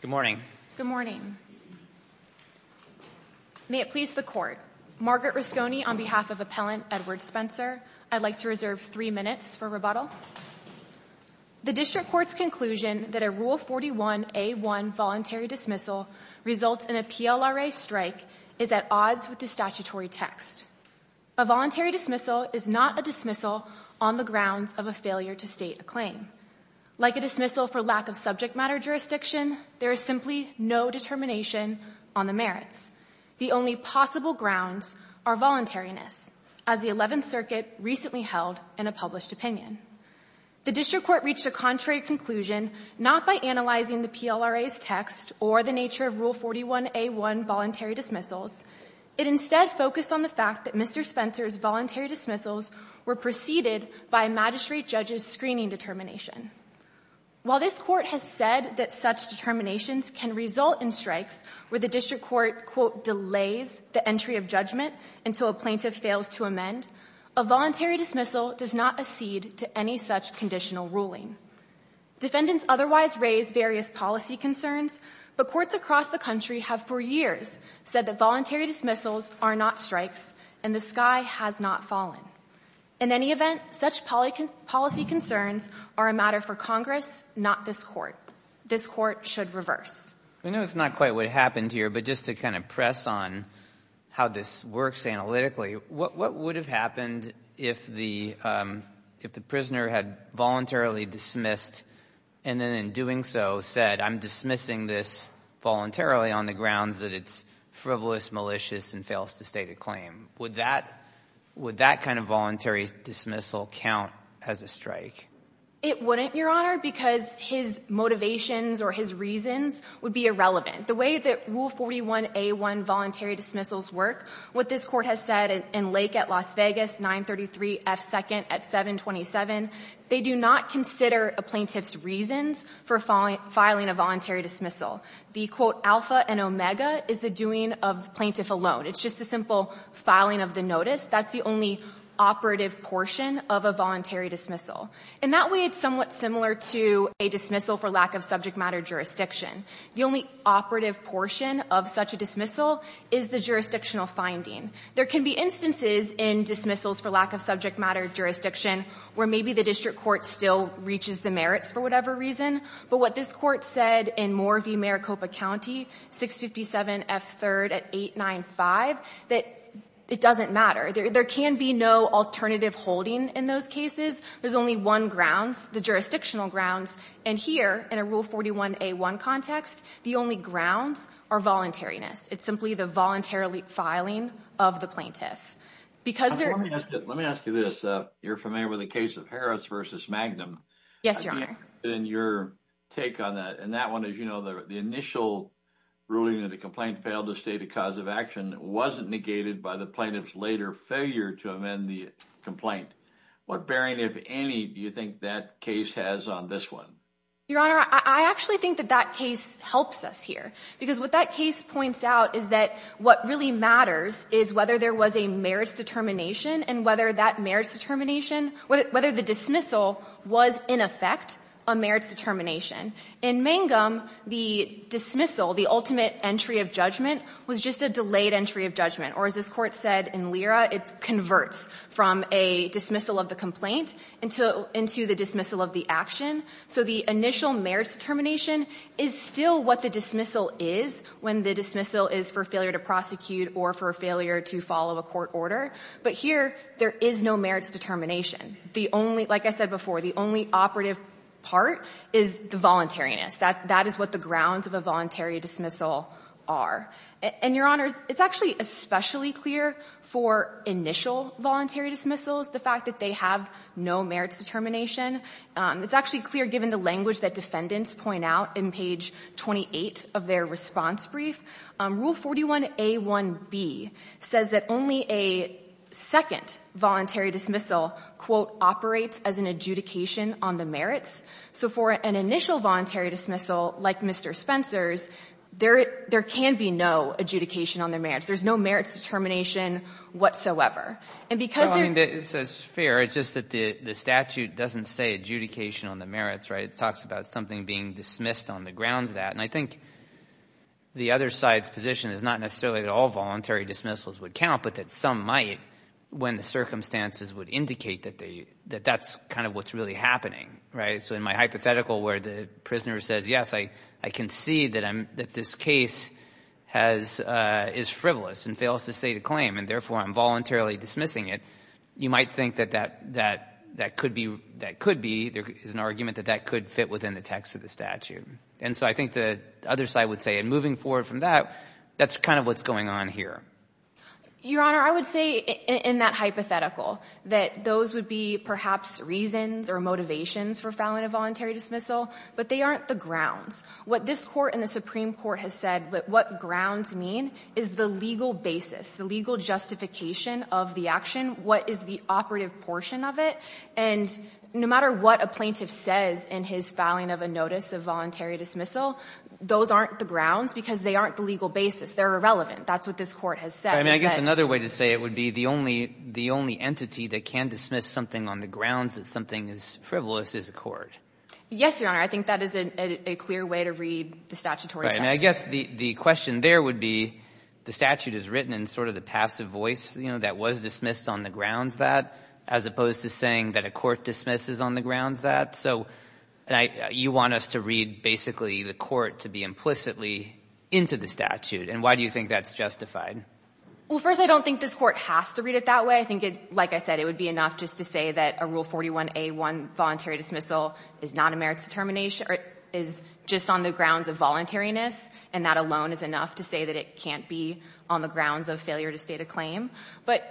Good morning. Good morning. May it please the court. Margaret Rusconi on behalf of Appellant Edward Spencer. I'd like to reserve three minutes for rebuttal. The district court's conclusion that a Rule 41a1 voluntary dismissal results in a PLRA strike is at odds with the statutory text. A voluntary dismissal is not a dismissal on the grounds of a failure to state a claim. Like a dismissal for lack of subject matter jurisdiction, there is simply no determination on the merits. The only possible grounds are voluntariness, as the 11th Circuit recently held in a published opinion. The district court reached a contrary conclusion not by analyzing the PLRA's text or the nature of Rule 41a1 voluntary dismissals. It instead focused on the fact that Mr. Spencer's voluntary dismissals were preceded by a magistrate judge's screening determination. While this court has said that such determinations can result in strikes, where the district court, quote, delays the entry of judgment until a plaintiff fails to amend, a voluntary dismissal does not accede to any such conditional ruling. Defendants otherwise raise various policy concerns, but courts across the country have for years said that voluntary dismissals are not strikes and the sky has not fallen. In any event, such policy concerns are a matter for Congress, not this court. This court should reverse. I know it's not quite what happened here, but just to kind of press on how this works analytically, what would have happened if the if the prisoner had voluntarily dismissed and then in doing so said, I'm dismissing this voluntarily on the grounds that it's frivolous, malicious, and fails to state a claim? Would that would that kind of voluntary dismissal count as a strike? It wouldn't, Your Honor, because his motivations or his reasons would be irrelevant. The way that Rule 41A1 voluntary dismissals work, what this court has said in Lake at Las Vegas, 933 F. 2nd at 727, they do not consider a plaintiff's reasons for filing a voluntary dismissal. The, quote, alpha and omega is the doing of the plaintiff alone. It's just a simple filing of the notice. That's the only operative portion of a voluntary dismissal. And that way, it's somewhat similar to a dismissal for lack of subject matter jurisdiction. The only operative portion of such a dismissal is the jurisdictional finding. There can be instances in dismissals for lack of subject matter jurisdiction where maybe the district court still reaches the merits for whatever reason. But what this court said in Moore v. Maricopa County, 657 F. 3rd at 894, 655, that it doesn't matter. There can be no alternative holding in those cases. There's only one grounds, the jurisdictional grounds. And here, in a Rule 41A1 context, the only grounds are voluntariness. It's simply the voluntarily filing of the plaintiff. Because they're... Let me ask you this. You're familiar with the case of Harris v. Magnum. Yes, Your Honor. And your take on that. And that one, as you know, the initial ruling that the complaint failed to state a cause of action wasn't negated by the plaintiff's later failure to amend the complaint. What bearing, if any, do you think that case has on this one? Your Honor, I actually think that that case helps us here. Because what that case points out is that what really matters is whether there was a merits determination and whether that merits determination, whether the dismissal was in effect a merits determination. In Magnum, the dismissal, the ultimate entry of judgment, was just a delayed entry of judgment. Or as this Court said in Lyra, it converts from a dismissal of the complaint into the dismissal of the action. So the initial merits determination is still what the dismissal is when the dismissal is for failure to prosecute or for failure to follow a court order. But here, there is no merits determination. The only, like I said before, the only operative part is the voluntariness. That is what the grounds of a voluntary dismissal are. And Your Honor, it's actually especially clear for initial voluntary dismissals, the fact that they have no merits determination. It's actually clear given the language that defendants point out in page 28 of their response brief. Rule 41A1B says that only a second voluntary dismissal, quote, operates as an adjudication on the merits. So for an initial voluntary dismissal, like Mr. Spencer's, there can be no adjudication on the merits. There is no merits determination whatsoever. And because there's No, I mean, it's fair. It's just that the statute doesn't say adjudication on the merits, right? It talks about something being dismissed on the grounds of that. And I think the other side's position is not necessarily that all voluntary dismissals would count, but that some might when the circumstances would indicate that that's kind of what's really happening, right? So in my hypothetical where the prisoner says, yes, I can see that this case is frivolous and fails to state a claim, and therefore I'm voluntarily dismissing it, you might think that that could be, there is an argument that that could fit within the text of the statute. And so I think the other side would say, and moving forward from that, that's kind of what's going on here. Your Honor, I would say in that hypothetical that those would be perhaps reasons or motivations for filing a voluntary dismissal, but they aren't the grounds. What this court and the Supreme Court has said, what grounds mean is the legal basis, the legal justification of the action, what is the operative portion of it. And no matter what a plaintiff says in his filing of a notice of voluntary dismissal, those aren't the grounds because they aren't the legal basis. They're irrelevant. That's what this court has said. I mean, I guess another way to say it would be the only entity that can dismiss something on the grounds that something is frivolous is a court. Yes, Your Honor. I think that is a clear way to read the statutory text. Right. And I guess the question there would be the statute is written in sort of the passive voice, you know, that was dismissed on the grounds that, as opposed to saying that a And I you want us to read basically the court to be implicitly into the statute. And why do you think that's justified? Well, first, I don't think this Court has to read it that way. I think it, like I said, it would be enough just to say that a Rule 41a1 voluntary dismissal is not a merits determination or is just on the grounds of voluntariness, and that alone is enough to say that it can't be on the grounds of failure to state a claim. But,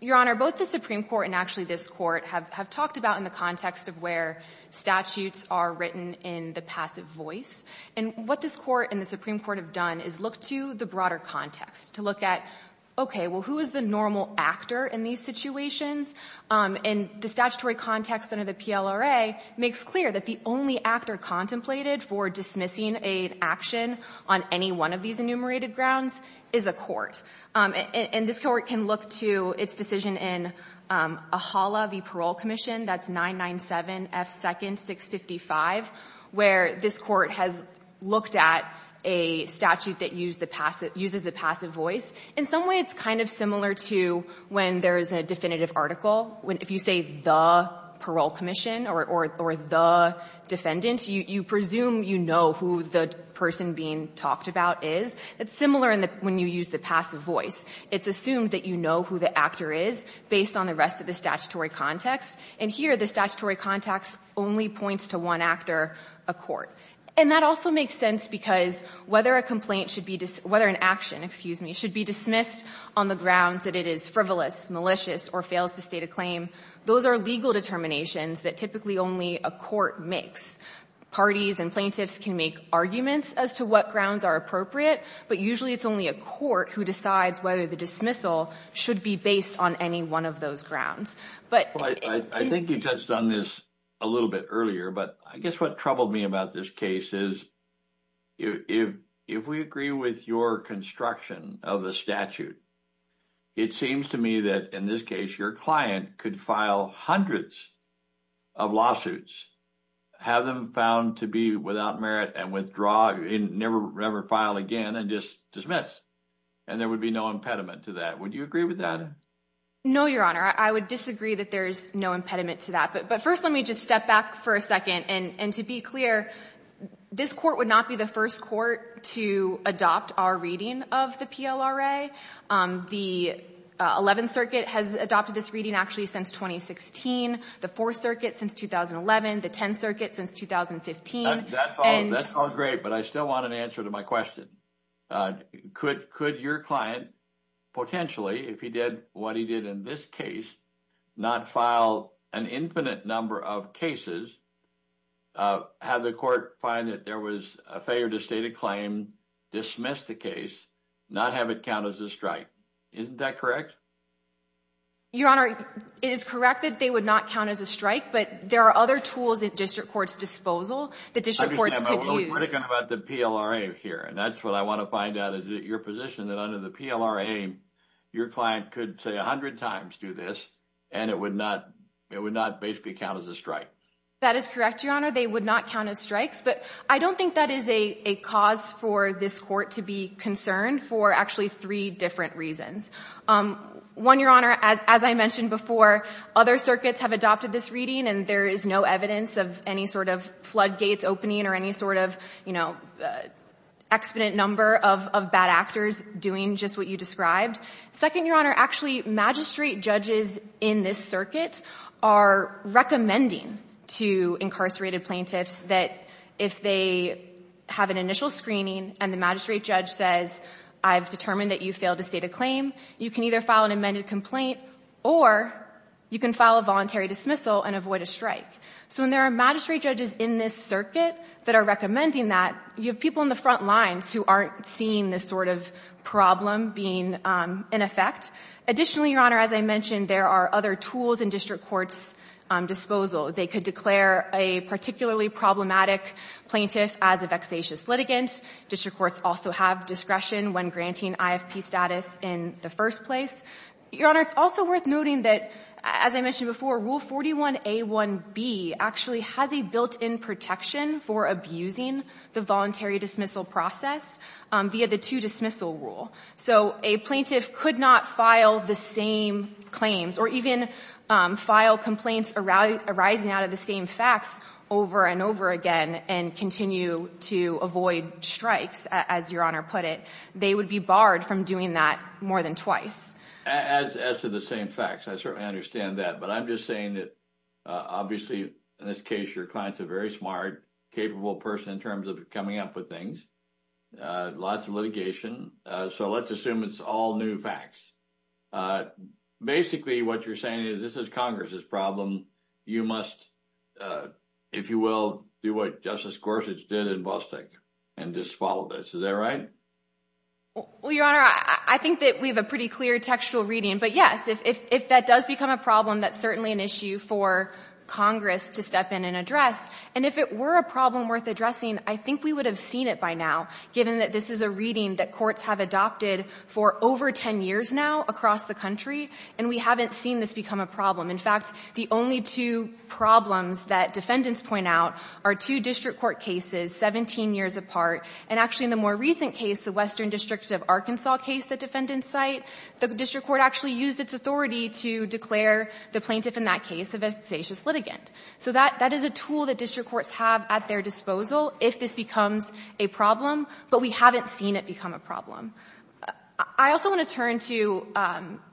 Your Honor, both the Supreme Court and actually this Court have talked about in the context of where statutes are written in the passive voice. And what this Court and the Supreme Court have done is look to the broader context to look at, OK, well, who is the normal actor in these situations? And the statutory context under the PLRA makes clear that the only actor contemplated for dismissing an action on any one of these enumerated grounds is a court. And this Court can look to its decision in AHALA v. Parole Commission, that's 997 F. 2nd 655, where this Court has looked at a statute that uses the passive voice. In some way, it's kind of similar to when there is a definitive article. If you say the Parole Commission or the defendant, you presume you know who the person being talked about is, it's similar when you use the passive voice. It's assumed that you know who the actor is based on the rest of the statutory context. And here, the statutory context only points to one actor, a court. And that also makes sense because whether an action should be dismissed on the grounds that it is frivolous, malicious, or fails to state a claim, those are legal determinations that typically only a court makes. Parties and plaintiffs can make arguments as to what grounds are appropriate, but usually it's only a court who decides whether the dismissal should be based on any one of those grounds. I think you touched on this a little bit earlier, but I guess what troubled me about this case is if we agree with your construction of the statute, it seems to me that in this case, your client could file hundreds of lawsuits, have them found to be without merit, and withdraw, never ever file again, and just dismiss. And there would be no impediment to that. Would you agree with that? No, Your Honor, I would disagree that there's no impediment to that. But first, let me just step back for a second. And to be clear, this court would not be the first court to adopt our reading of the PLRA. The 11th Circuit has adopted this reading, actually, since 2016, the 4th Circuit since 2011, the 10th Circuit since 2015, and... That's all great, but I still want an answer to my question. Could your client potentially, if he did what he did in this case, not file an infinite number of cases, have the court find that there was a failure to state a claim, dismiss the case, not have it count as a strike? Isn't that correct? Your Honor, it is correct that they would not count as a strike, but there are other tools at district court's disposal that district courts could use. I'm just thinking about the PLRA here, and that's what I want to find out, is that your position that under the PLRA, your client could, say, a hundred times do this, and it would not basically count as a strike. That is correct, Your Honor, they would not count as strikes, but I don't think that is a cause for this court to be concerned for, actually, three different reasons. One, Your Honor, as I mentioned before, other circuits have adopted this reading, and there is no evidence of any sort of floodgates opening or any sort of, you know, exponent number of bad actors doing just what you described. Second, Your Honor, actually, magistrate judges in this circuit are recommending to incarcerated plaintiffs that if they have an initial screening and the magistrate judge says, I've determined that you failed to state a claim, you can either file an amended complaint or you can file a voluntary dismissal and avoid a strike. So when there are magistrate judges in this circuit that are recommending that, you have people on the front lines who aren't seeing this sort of problem being in effect. Additionally, Your Honor, as I mentioned, there are other tools in district court's disposal. They could declare a particularly problematic plaintiff as a vexatious litigant. District courts also have discretion when granting IFP status in the first place. Your Honor, it's also worth noting that, as I mentioned before, Rule 41A1B actually has a built-in protection for abusing the voluntary dismissal process via the two-dismissal rule. So a plaintiff could not file the same claims or even file complaints arising out of the same facts over and over again and continue to avoid strikes, as Your Honor put it. They would be barred from doing that more than twice. As to the same facts, I certainly understand that. But I'm just saying that, obviously, in this case, your client's a very smart, capable person in terms of coming up with things. Lots of litigation. So let's assume it's all new facts. Basically, what you're saying is this is Congress's problem. You must, if you will, do what Justice Gorsuch did in Bostick and just follow this. Is that right? Well, Your Honor, I think that we have a pretty clear textual reading. But yes, if that does become a problem, that's certainly an issue for Congress to step in and address. And if it were a problem worth addressing, I think we would have seen it by now, given that this is a reading that courts have adopted for over 10 years now across the country, and we haven't seen this become a problem. In fact, the only two problems that defendants point out are two district court cases 17 years apart. And actually, in the more recent case, the Western District of Arkansas case, the defendant's site, the district court actually used its authority to declare the plaintiff in that case a vexatious litigant. So that is a tool that district courts have at their disposal if this becomes a problem. But we haven't seen it become a problem. I also want to turn to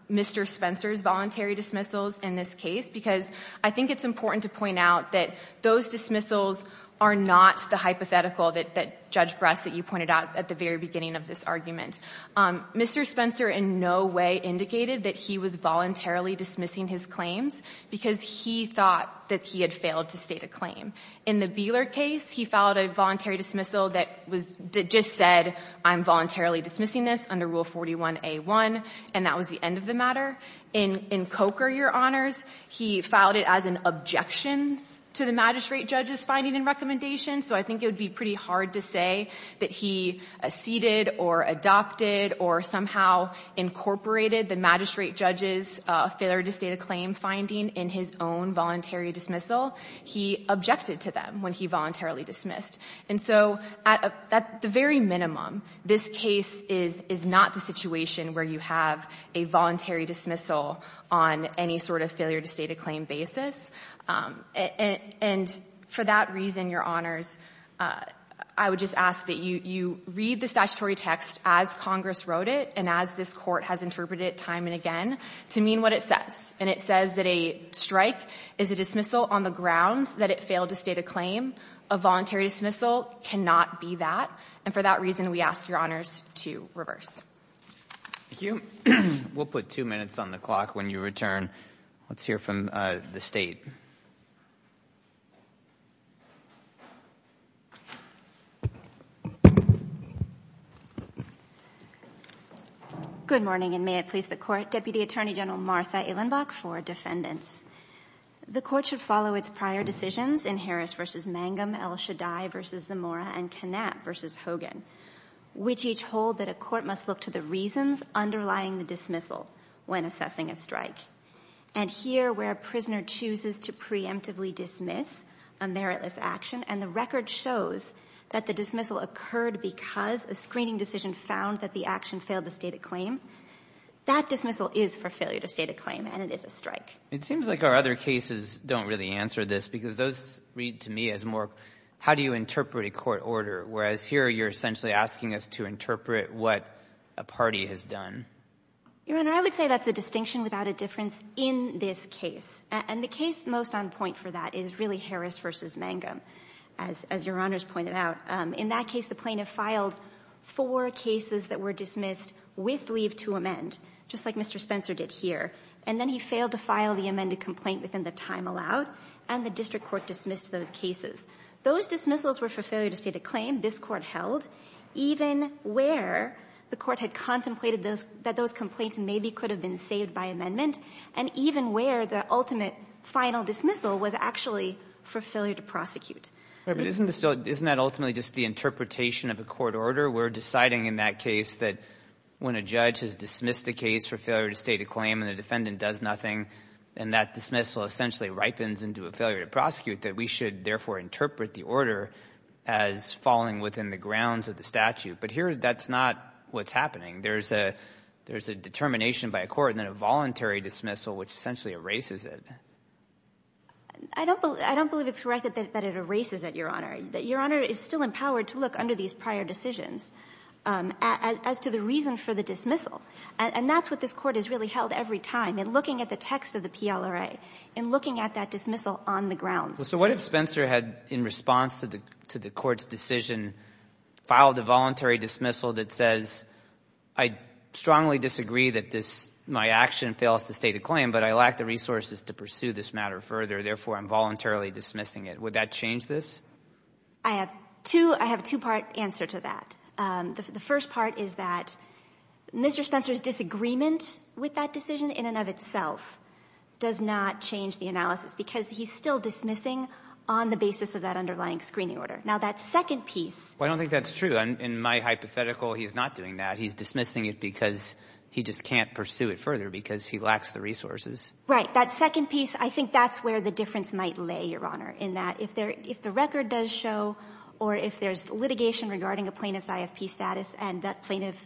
Mr. Spencer's voluntary dismissals in this case, because I think it's important to point out that those dismissals are not the hypothetical that Judge Bresset you pointed out at the very beginning of this argument. Mr. Spencer in no way indicated that he was voluntarily dismissing his claims, because he thought that he had failed to state a claim. In the Beeler case, he filed a voluntary dismissal that was — that just said, I'm voluntarily dismissing this under Rule 41A1, and that was the end of the matter. In Coker, Your Honors, he filed it as an objection to the magistrate judge's finding and recommendation. So I think it would be pretty hard to say that he acceded or adopted or somehow incorporated the magistrate judge's failure to state a claim finding in his own voluntary dismissal. He objected to them when he voluntarily dismissed. And so, at the very minimum, this case is not the situation where you have a voluntary dismissal on any sort of failure-to-state-a-claim basis. And for that reason, Your Honors, I would just ask that you read the statutory text as Congress wrote it and as this Court has interpreted it time and again to mean what it says. And it says that a strike is a dismissal on the grounds that it failed to state a claim. A voluntary dismissal cannot be that. And for that reason, we ask Your Honors to reverse. Thank you. We'll put two minutes on the clock when you return. Let's hear from the State. Good morning, and may it please the Court. Deputy Attorney General Martha Ehlenbach for defendants. The Court should follow its prior decisions in Harris v. Mangum, El Shaddai v. Zamora, and Kanat v. Hogan, which each hold that a court must look to the reasons underlying the dismissal when assessing a strike. And here, where a prisoner chooses to preemptively dismiss a meritless action, and the record shows that the dismissal occurred because a screening decision found that the action is for failure to state a claim, and it is a strike. It seems like our other cases don't really answer this, because those read to me as more how do you interpret a court order, whereas here you're essentially asking us to interpret what a party has done. Your Honor, I would say that's a distinction without a difference in this case. And the case most on point for that is really Harris v. Mangum, as Your Honors pointed out. In that case, the plaintiff filed four cases that were dismissed with leave to amend, just like Mr. Spencer did here. And then he failed to file the amended complaint within the time allowed, and the district court dismissed those cases. Those dismissals were for failure to state a claim, this Court held, even where the Court had contemplated that those complaints maybe could have been saved by amendment, and even where the ultimate final dismissal was actually for failure to prosecute. But isn't this still — isn't that ultimately just the interpretation of a court order? We're deciding in that case that when a judge has dismissed a case for failure to state a claim and the defendant does nothing, and that dismissal essentially ripens into a failure to prosecute, that we should therefore interpret the order as falling within the grounds of the statute. But here that's not what's happening. There's a determination by a court and then a voluntary dismissal which essentially erases it. I don't believe it's correct that it erases it, Your Honor. Your Honor is still empowered to look under these prior decisions as to the reason for the dismissal. And that's what this Court has really held every time, in looking at the text of the PLRA, in looking at that dismissal on the grounds. So what if Spencer had, in response to the Court's decision, filed a voluntary dismissal that says, I strongly disagree that this — my action fails to state a claim, but I lack the resources to pursue this matter further, therefore I'm voluntarily dismissing it. Would that change this? I have two — I have a two-part answer to that. The first part is that Mr. Spencer's disagreement with that decision in and of itself does not change the analysis, because he's still dismissing on the basis of that underlying screening order. Now, that second piece — Well, I don't think that's true. In my hypothetical, he's not doing that. He's dismissing it because he just can't pursue it further, because he lacks the resources. Right. That second piece, I think that's where the difference might lay, Your Honor, in that if there — if the record does show, or if there's litigation regarding a plaintiff's IFP status, and that plaintiff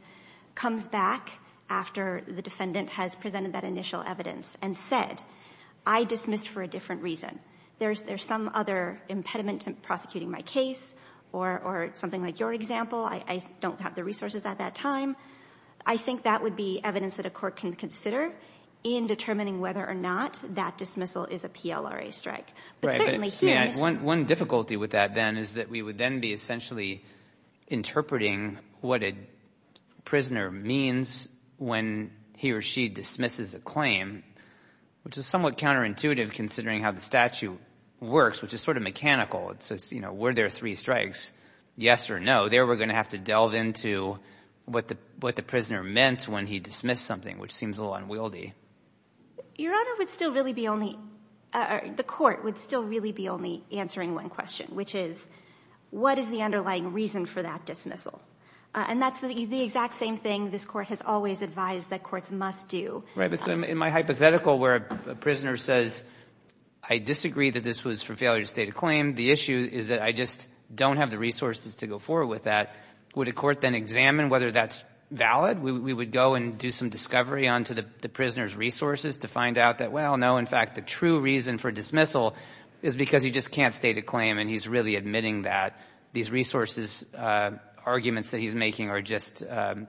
comes back after the defendant has presented that initial evidence and said, I dismissed for a different reason, there's some other impediment to prosecuting my case, or something like your example, I don't have the resources at that time, I think that would be evidence that a court can consider in determining whether or not that dismissal is a PLRA strike. Right. But certainly here — One difficulty with that, then, is that we would then be essentially interpreting what a prisoner means when he or she dismisses a claim, which is somewhat counterintuitive considering how the statute works, which is sort of mechanical. It says, you know, were there three strikes, yes or no, there we're going to have to delve into what the prisoner meant when he dismissed something, which seems a little unwieldy. Your Honor, would still really be only — the court would still really be only answering one question, which is, what is the underlying reason for that dismissal? And that's the exact same thing this Court has always advised that courts must do. Right. But in my hypothetical where a prisoner says, I disagree that this was for failure to state a claim, the issue is that I just don't have the resources to go forward with that, would a court then examine whether that's valid? We would go and do some discovery onto the prisoner's resources to find out that, well, no, in fact, the true reason for dismissal is because he just can't state a claim and he's really admitting that. These resources arguments that he's making are just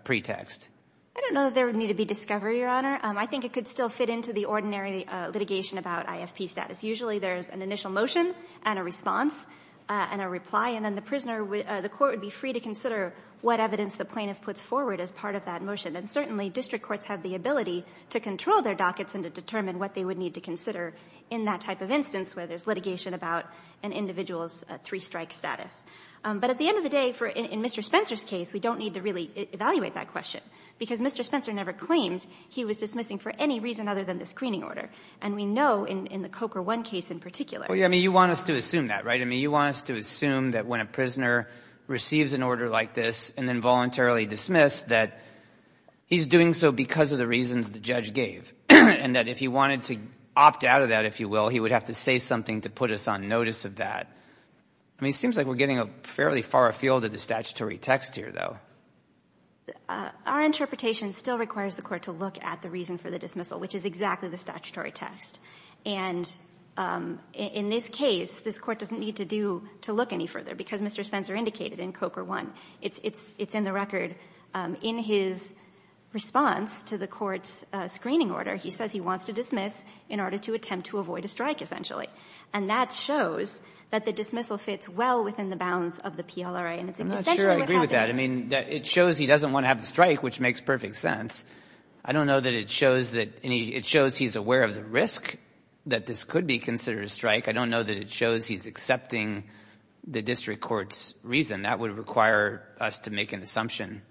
pretext. I don't know that there would need to be discovery, Your Honor. I think it could still fit into the ordinary litigation about IFP status. Usually there's an initial motion and a response and a reply, and then the prisoner — the court would be free to consider what evidence the plaintiff puts forward as part of that motion. And certainly district courts have the ability to control their dockets and to determine what they would need to consider in that type of instance where there's litigation about an individual's three-strike status. But at the end of the day, in Mr. Spencer's case, we don't need to really evaluate that question, because Mr. Spencer never claimed he was dismissing for any reason other than the screening order. And we know in the Coker 1 case in particular — Well, I mean, you want us to assume that, right? I mean, you want us to assume that when a prisoner receives an order like this and then voluntarily dismissed, that he's doing so because of the reasons the judge gave, and that if he wanted to opt out of that, if you will, he would have to say something to put us on notice of that. I mean, it seems like we're getting a fairly far afield of the statutory text here, though. Our interpretation still requires the Court to look at the reason for the dismissal, which is exactly the statutory text. And in this case, this Court doesn't need to do — to look any further, because as Mr. Spencer indicated in Coker 1, it's in the record. In his response to the Court's screening order, he says he wants to dismiss in order to attempt to avoid a strike, essentially. And that shows that the dismissal fits well within the bounds of the PLRA. And it's essentially what happened here. I'm not sure I agree with that. I mean, it shows he doesn't want to have the strike, which makes perfect sense. I don't know that it shows that any — it shows he's aware of the risk that this could be considered a strike. I don't know that it shows he's accepting the district court's reason. That would require us to make an assumption.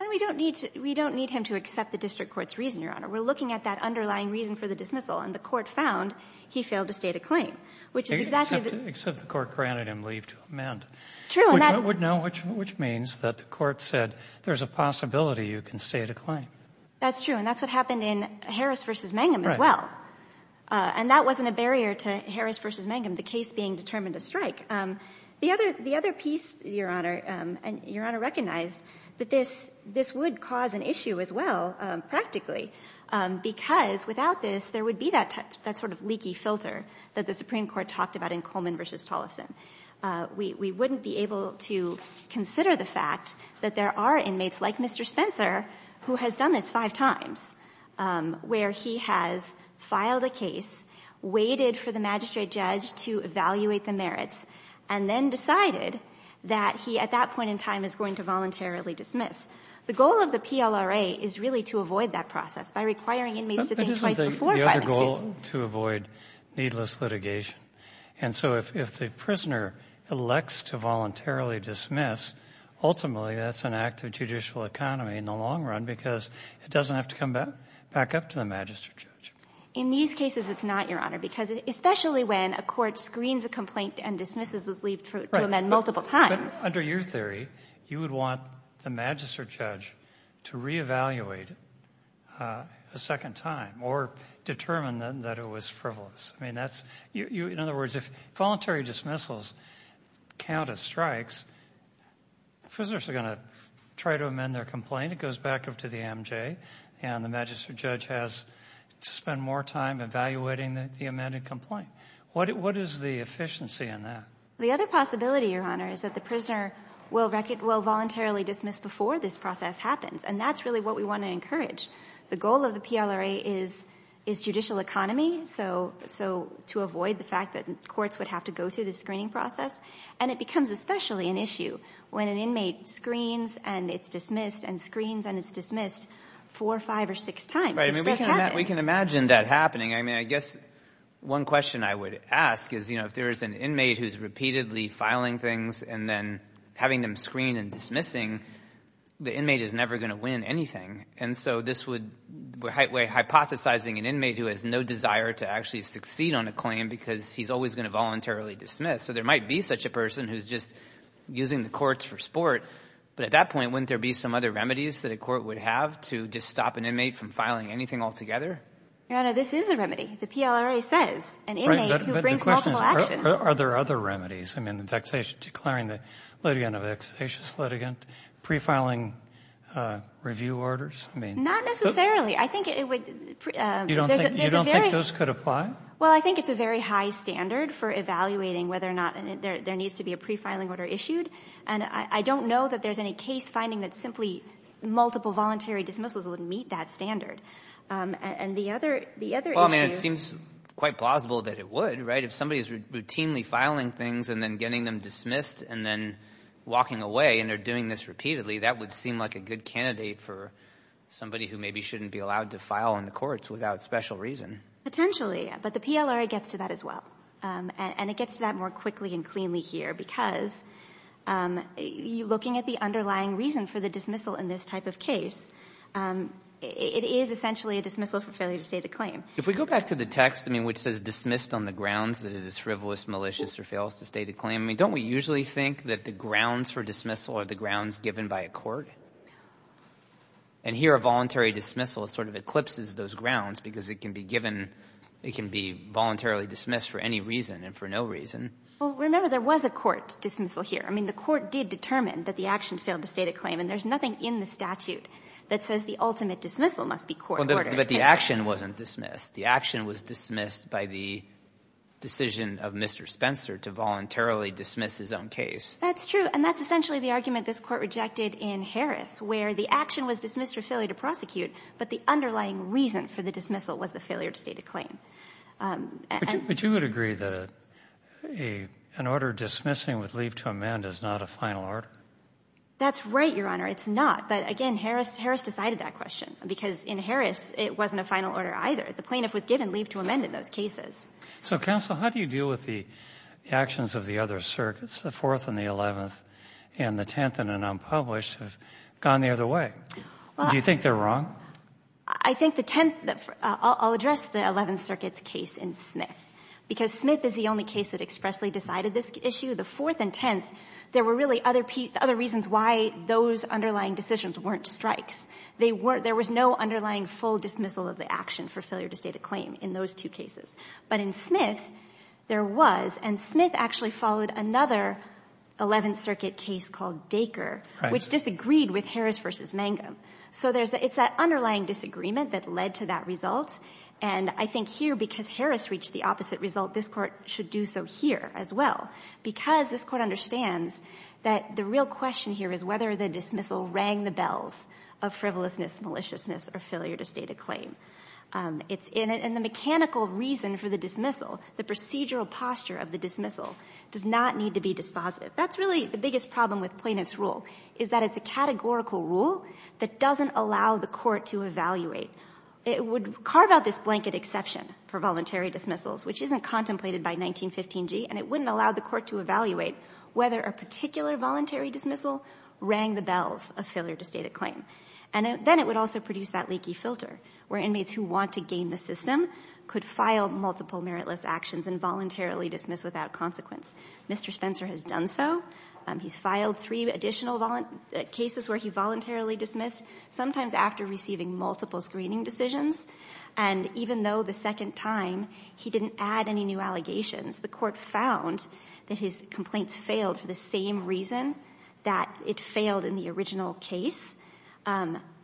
And we don't need to — we don't need him to accept the district court's reason, We're looking at that underlying reason for the dismissal. And the Court found he failed to state a claim, which is exactly the — Except the Court granted him leave to amend. True. And that — Which means that the Court said there's a possibility you can state a claim. That's true. And that's what happened in Harris v. Mangum as well. Right. And that wasn't a barrier to Harris v. Mangum, the case being determined a strike. The other piece, Your Honor, and Your Honor recognized, that this would cause an issue as well, practically, because without this, there would be that sort of leaky filter that the Supreme Court talked about in Coleman v. Tollefson. We wouldn't be able to consider the fact that there are inmates like Mr. Spencer who has done this five times, where he has filed a case, waited for the magistrate judge to evaluate the merits, and then decided that he, at that point in time, is going to voluntarily dismiss. The goal of the PLRA is really to avoid that process by requiring inmates to think twice before filing a suit. But isn't the other goal to avoid needless litigation? And so if the prisoner elects to voluntarily dismiss, ultimately that's an act of judicial economy in the long run, because it doesn't have to come back up to the magistrate judge. In these cases, it's not, Your Honor, because especially when a court screens a complaint and dismisses the plea to amend multiple times. But under your theory, you would want the magistrate judge to re-evaluate a second time, or determine that it was frivolous. I mean, that's, in other words, if voluntary dismissals count as strikes, prisoners are going to try to amend their complaint, it goes back up to the MJ, and the magistrate judge has to spend more time evaluating the amended complaint. What is the efficiency in that? The other possibility, Your Honor, is that the prisoner will voluntarily dismiss before this process happens, and that's really what we want to encourage. The goal of the PLRA is judicial economy, so to avoid the fact that courts would have to go through the screening process. And it becomes especially an issue when an inmate screens and it's dismissed, and screens and it's dismissed four, five, or six times, which doesn't happen. We can imagine that happening. I mean, I guess one question I would ask is, you know, if there's an inmate who's repeatedly filing things and then having them screen and dismissing, the inmate is never going to win anything. And so this would, we're hypothesizing an inmate who has no desire to actually succeed on a claim because he's always going to voluntarily dismiss. So there might be such a person who's just using the courts for sport, but at that point, wouldn't there be some other remedies that a court would have to just stop an inmate from filing anything altogether? Your Honor, this is a remedy. The PLRA says an inmate who brings multiple actions. Are there other remedies? I mean, the vexation, declaring the litigant a vexatious litigant, pre-filing review orders? Not necessarily. I think it would— You don't think those could apply? Well, I think it's a very high standard for evaluating whether or not there needs to be a pre-filing order issued. And I don't know that there's any case finding that simply multiple voluntary dismissals would meet that standard. And the other issue— Well, I mean, it seems quite plausible that it would, right? If somebody is routinely filing things and then getting them dismissed and then walking away and they're doing this repeatedly, that would seem like a good candidate for somebody who maybe shouldn't be allowed to file in the courts without special reason. Potentially. But the PLRA gets to that as well. And it gets to that more quickly and cleanly here because looking at the underlying reason for the dismissal in this type of case, it is essentially a dismissal for failure to state a claim. If we go back to the text, I mean, which says dismissed on the grounds that it is frivolous, malicious, or fails to state a claim, I mean, don't we usually think that the grounds for dismissal are the grounds given by a court? And here a voluntary dismissal sort of eclipses those grounds because it can be given — it can be voluntarily dismissed for any reason and for no reason. Well, remember, there was a court dismissal here. I mean, the court did determine that the action failed to state a claim, and there's nothing in the statute that says the ultimate dismissal must be court-ordered. But the action wasn't dismissed. The action was dismissed by the decision of Mr. Spencer to voluntarily dismiss his own case. That's true. And that's essentially the argument this Court rejected in Harris, where the action was dismissed for failure to prosecute, but the underlying reason for the dismissal was the failure to state a claim. But you would agree that an order dismissing with leave to amend is not a final order? That's right, Your Honor. It's not. But again, Harris decided that question because in Harris it wasn't a final order either. The plaintiff was given leave to amend in those cases. So, counsel, how do you deal with the actions of the other circuits, the Fourth and the Eleventh, and the Tenth, and an unpublished, have gone the other way? Do you think they're wrong? I think the Tenth — I'll address the Eleventh Circuit's case in Smith, because Smith is the only case that expressly decided this issue. The Fourth and Tenth, there were really other reasons why those underlying decisions weren't strikes. They weren't — there was no underlying full dismissal of the action for failure to state a claim in those two cases. But in Smith, there was, and Smith actually followed another Eleventh Circuit case called Dacre, which disagreed with Harris v. Mangum. So there's — it's that underlying disagreement that led to that result. And I think here, because Harris reached the opposite result, this Court should do so here as well, because this Court understands that the real question here is whether the dismissal rang the bells of frivolousness, maliciousness, or failure to state a claim. It's — and the mechanical reason for the dismissal, the procedural posture of the dismissal, does not need to be dispositive. That's really the biggest problem with plaintiff's rule, is that it's a categorical rule that doesn't allow the Court to evaluate. It would carve out this blanket exception for voluntary dismissals, which isn't contemplated by 1915g, and it wouldn't allow the Court to evaluate whether a particular voluntary dismissal rang the bells of failure to state a claim. And then it would also produce that leaky filter, where inmates who want to game the system could file multiple meritless actions and voluntarily dismiss without consequence. Mr. Spencer has done so. He's filed three additional cases where he voluntarily dismissed, sometimes after receiving multiple screening decisions. And even though the second time he didn't add any new allegations, the Court found that his complaints failed for the same reason that it failed in the original case,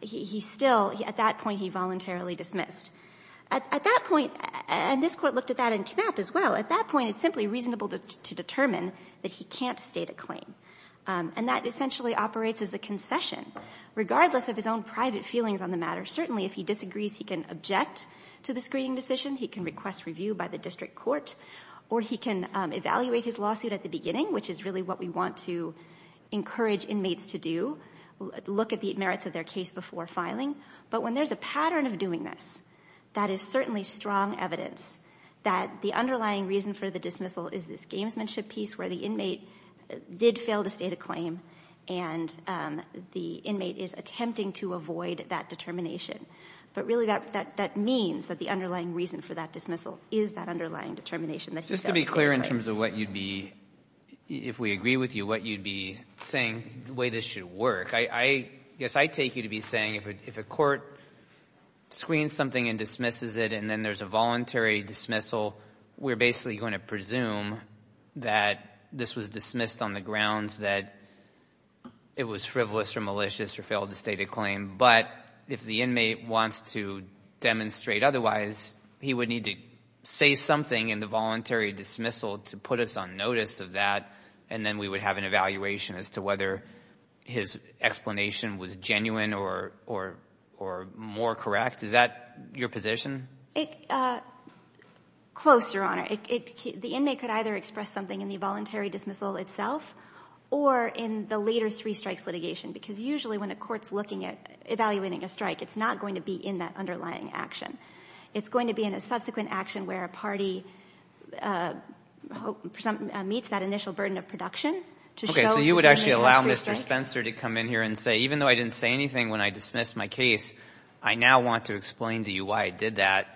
he still — at that point, he voluntarily dismissed. At that point — and this Court looked at that in Knapp as well — at that point, it's simply reasonable to determine that he can't state a claim. And that essentially operates as a concession. Regardless of his own private feelings on the matter, certainly if he disagrees, he can object to the screening decision, he can request review by the district court, or he can evaluate his lawsuit at the beginning, which is really what we want to encourage inmates to do, look at the merits of their case before filing. But when there's a pattern of doing this, that is certainly strong evidence that the underlying reason for the dismissal is this gamesmanship piece where the inmate did fail to state a claim, and the inmate is attempting to avoid that determination. But really, that means that the underlying reason for that dismissal is that underlying determination that he failed to state a claim. Just to be clear in terms of what you'd be — if we agree with you, what you'd be saying, the way this should work, I guess I take you to be saying if a court screens something and dismisses it and then there's a voluntary dismissal, we're basically going to presume that this was dismissed on the grounds that it was frivolous or malicious or failed to state a claim. But if the inmate wants to demonstrate otherwise, he would need to say something in the voluntary dismissal to put us on notice of that, and then we would have an evaluation as to whether his explanation was genuine or more correct. Is that your position? Close, Your Honor. The inmate could either express something in the voluntary dismissal itself or in the later three strikes litigation, because usually when a court's looking at evaluating a strike, it's not going to be in that underlying action. It's going to be in a subsequent action where a party meets that initial burden of production to show — Okay, so you would actually allow Mr. Spencer to come in here and say, even though I didn't say anything when I dismissed my case, I now want to explain to you why I did that,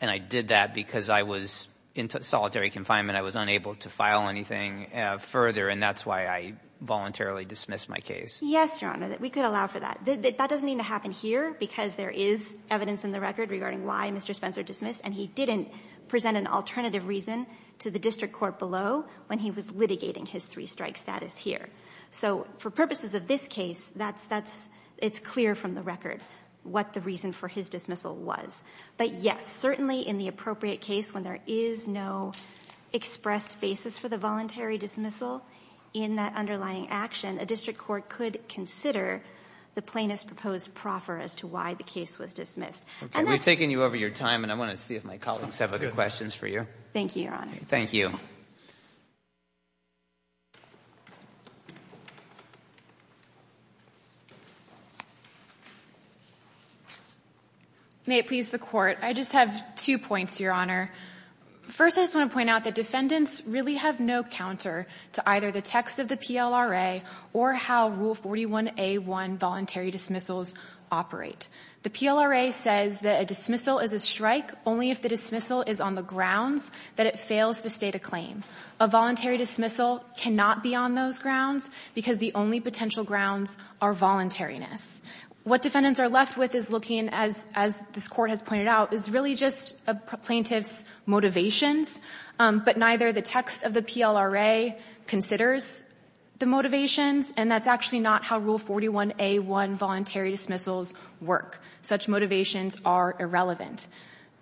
and I did that because I was in solitary confinement. I was unable to file anything further, and that's why I voluntarily dismissed my case. Yes, Your Honor, we could allow for that. That doesn't need to happen here because there is evidence in the record regarding why Mr. Spencer dismissed, and he didn't present an alternative reason to the district court below when he was litigating his three-strike status here. So for purposes of this case, it's clear from the record what the reason for his dismissal was. But yes, certainly in the appropriate case when there is no expressed basis for the voluntary dismissal in that underlying action, a district court could consider the plaintiff's proposed proffer as to why the case was dismissed. And that's — We've taken you over your time, and I want to see if my colleagues have other questions for you. Thank you, Your Honor. Thank you. May it please the Court. I just have two points, Your Honor. First, I just want to point out that defendants really have no counter to either the text of the PLRA or how Rule 41A1 voluntary dismissals operate. The PLRA says that a dismissal is a strike only if the dismissal is on the grounds that it fails to state a claim. A voluntary dismissal cannot be on those grounds because the only potential grounds are voluntariness. What defendants are left with is looking, as this Court has pointed out, is really just a plaintiff's motivations, but neither the text of the PLRA considers the motivations, and that's actually not how Rule 41A1 voluntary dismissals work. Such motivations are irrelevant.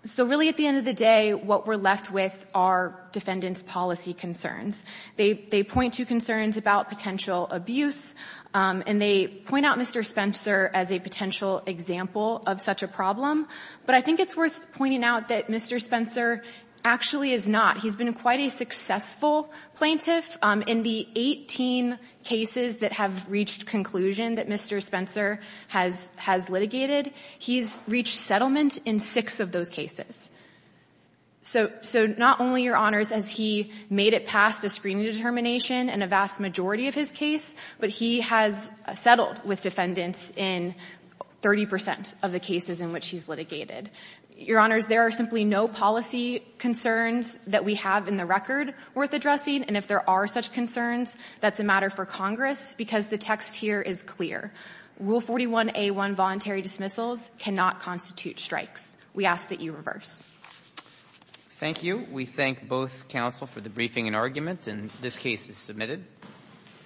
So really, at the end of the day, what we're left with are defendants' policy concerns. They point to concerns about potential abuse, and they point out Mr. Spencer as a potential example of such a problem. But I think it's worth pointing out that Mr. Spencer actually is not. He's been quite a successful plaintiff. In the 18 cases that have reached conclusion that Mr. Spencer has litigated, he's reached settlement in six of those cases. So not only, Your Honors, has he made it past a screening determination in a vast majority of his case, but he has settled with defendants in 30 percent of the cases in which he's litigated. Your Honors, there are simply no policy concerns that we have in the record worth addressing, and if there are such concerns, that's a matter for Congress because the text here is clear. Rule 41A1 voluntary dismissals cannot constitute strikes. We ask that you reverse. Thank you. We thank both counsel for the briefing and argument, and this case is submitted.????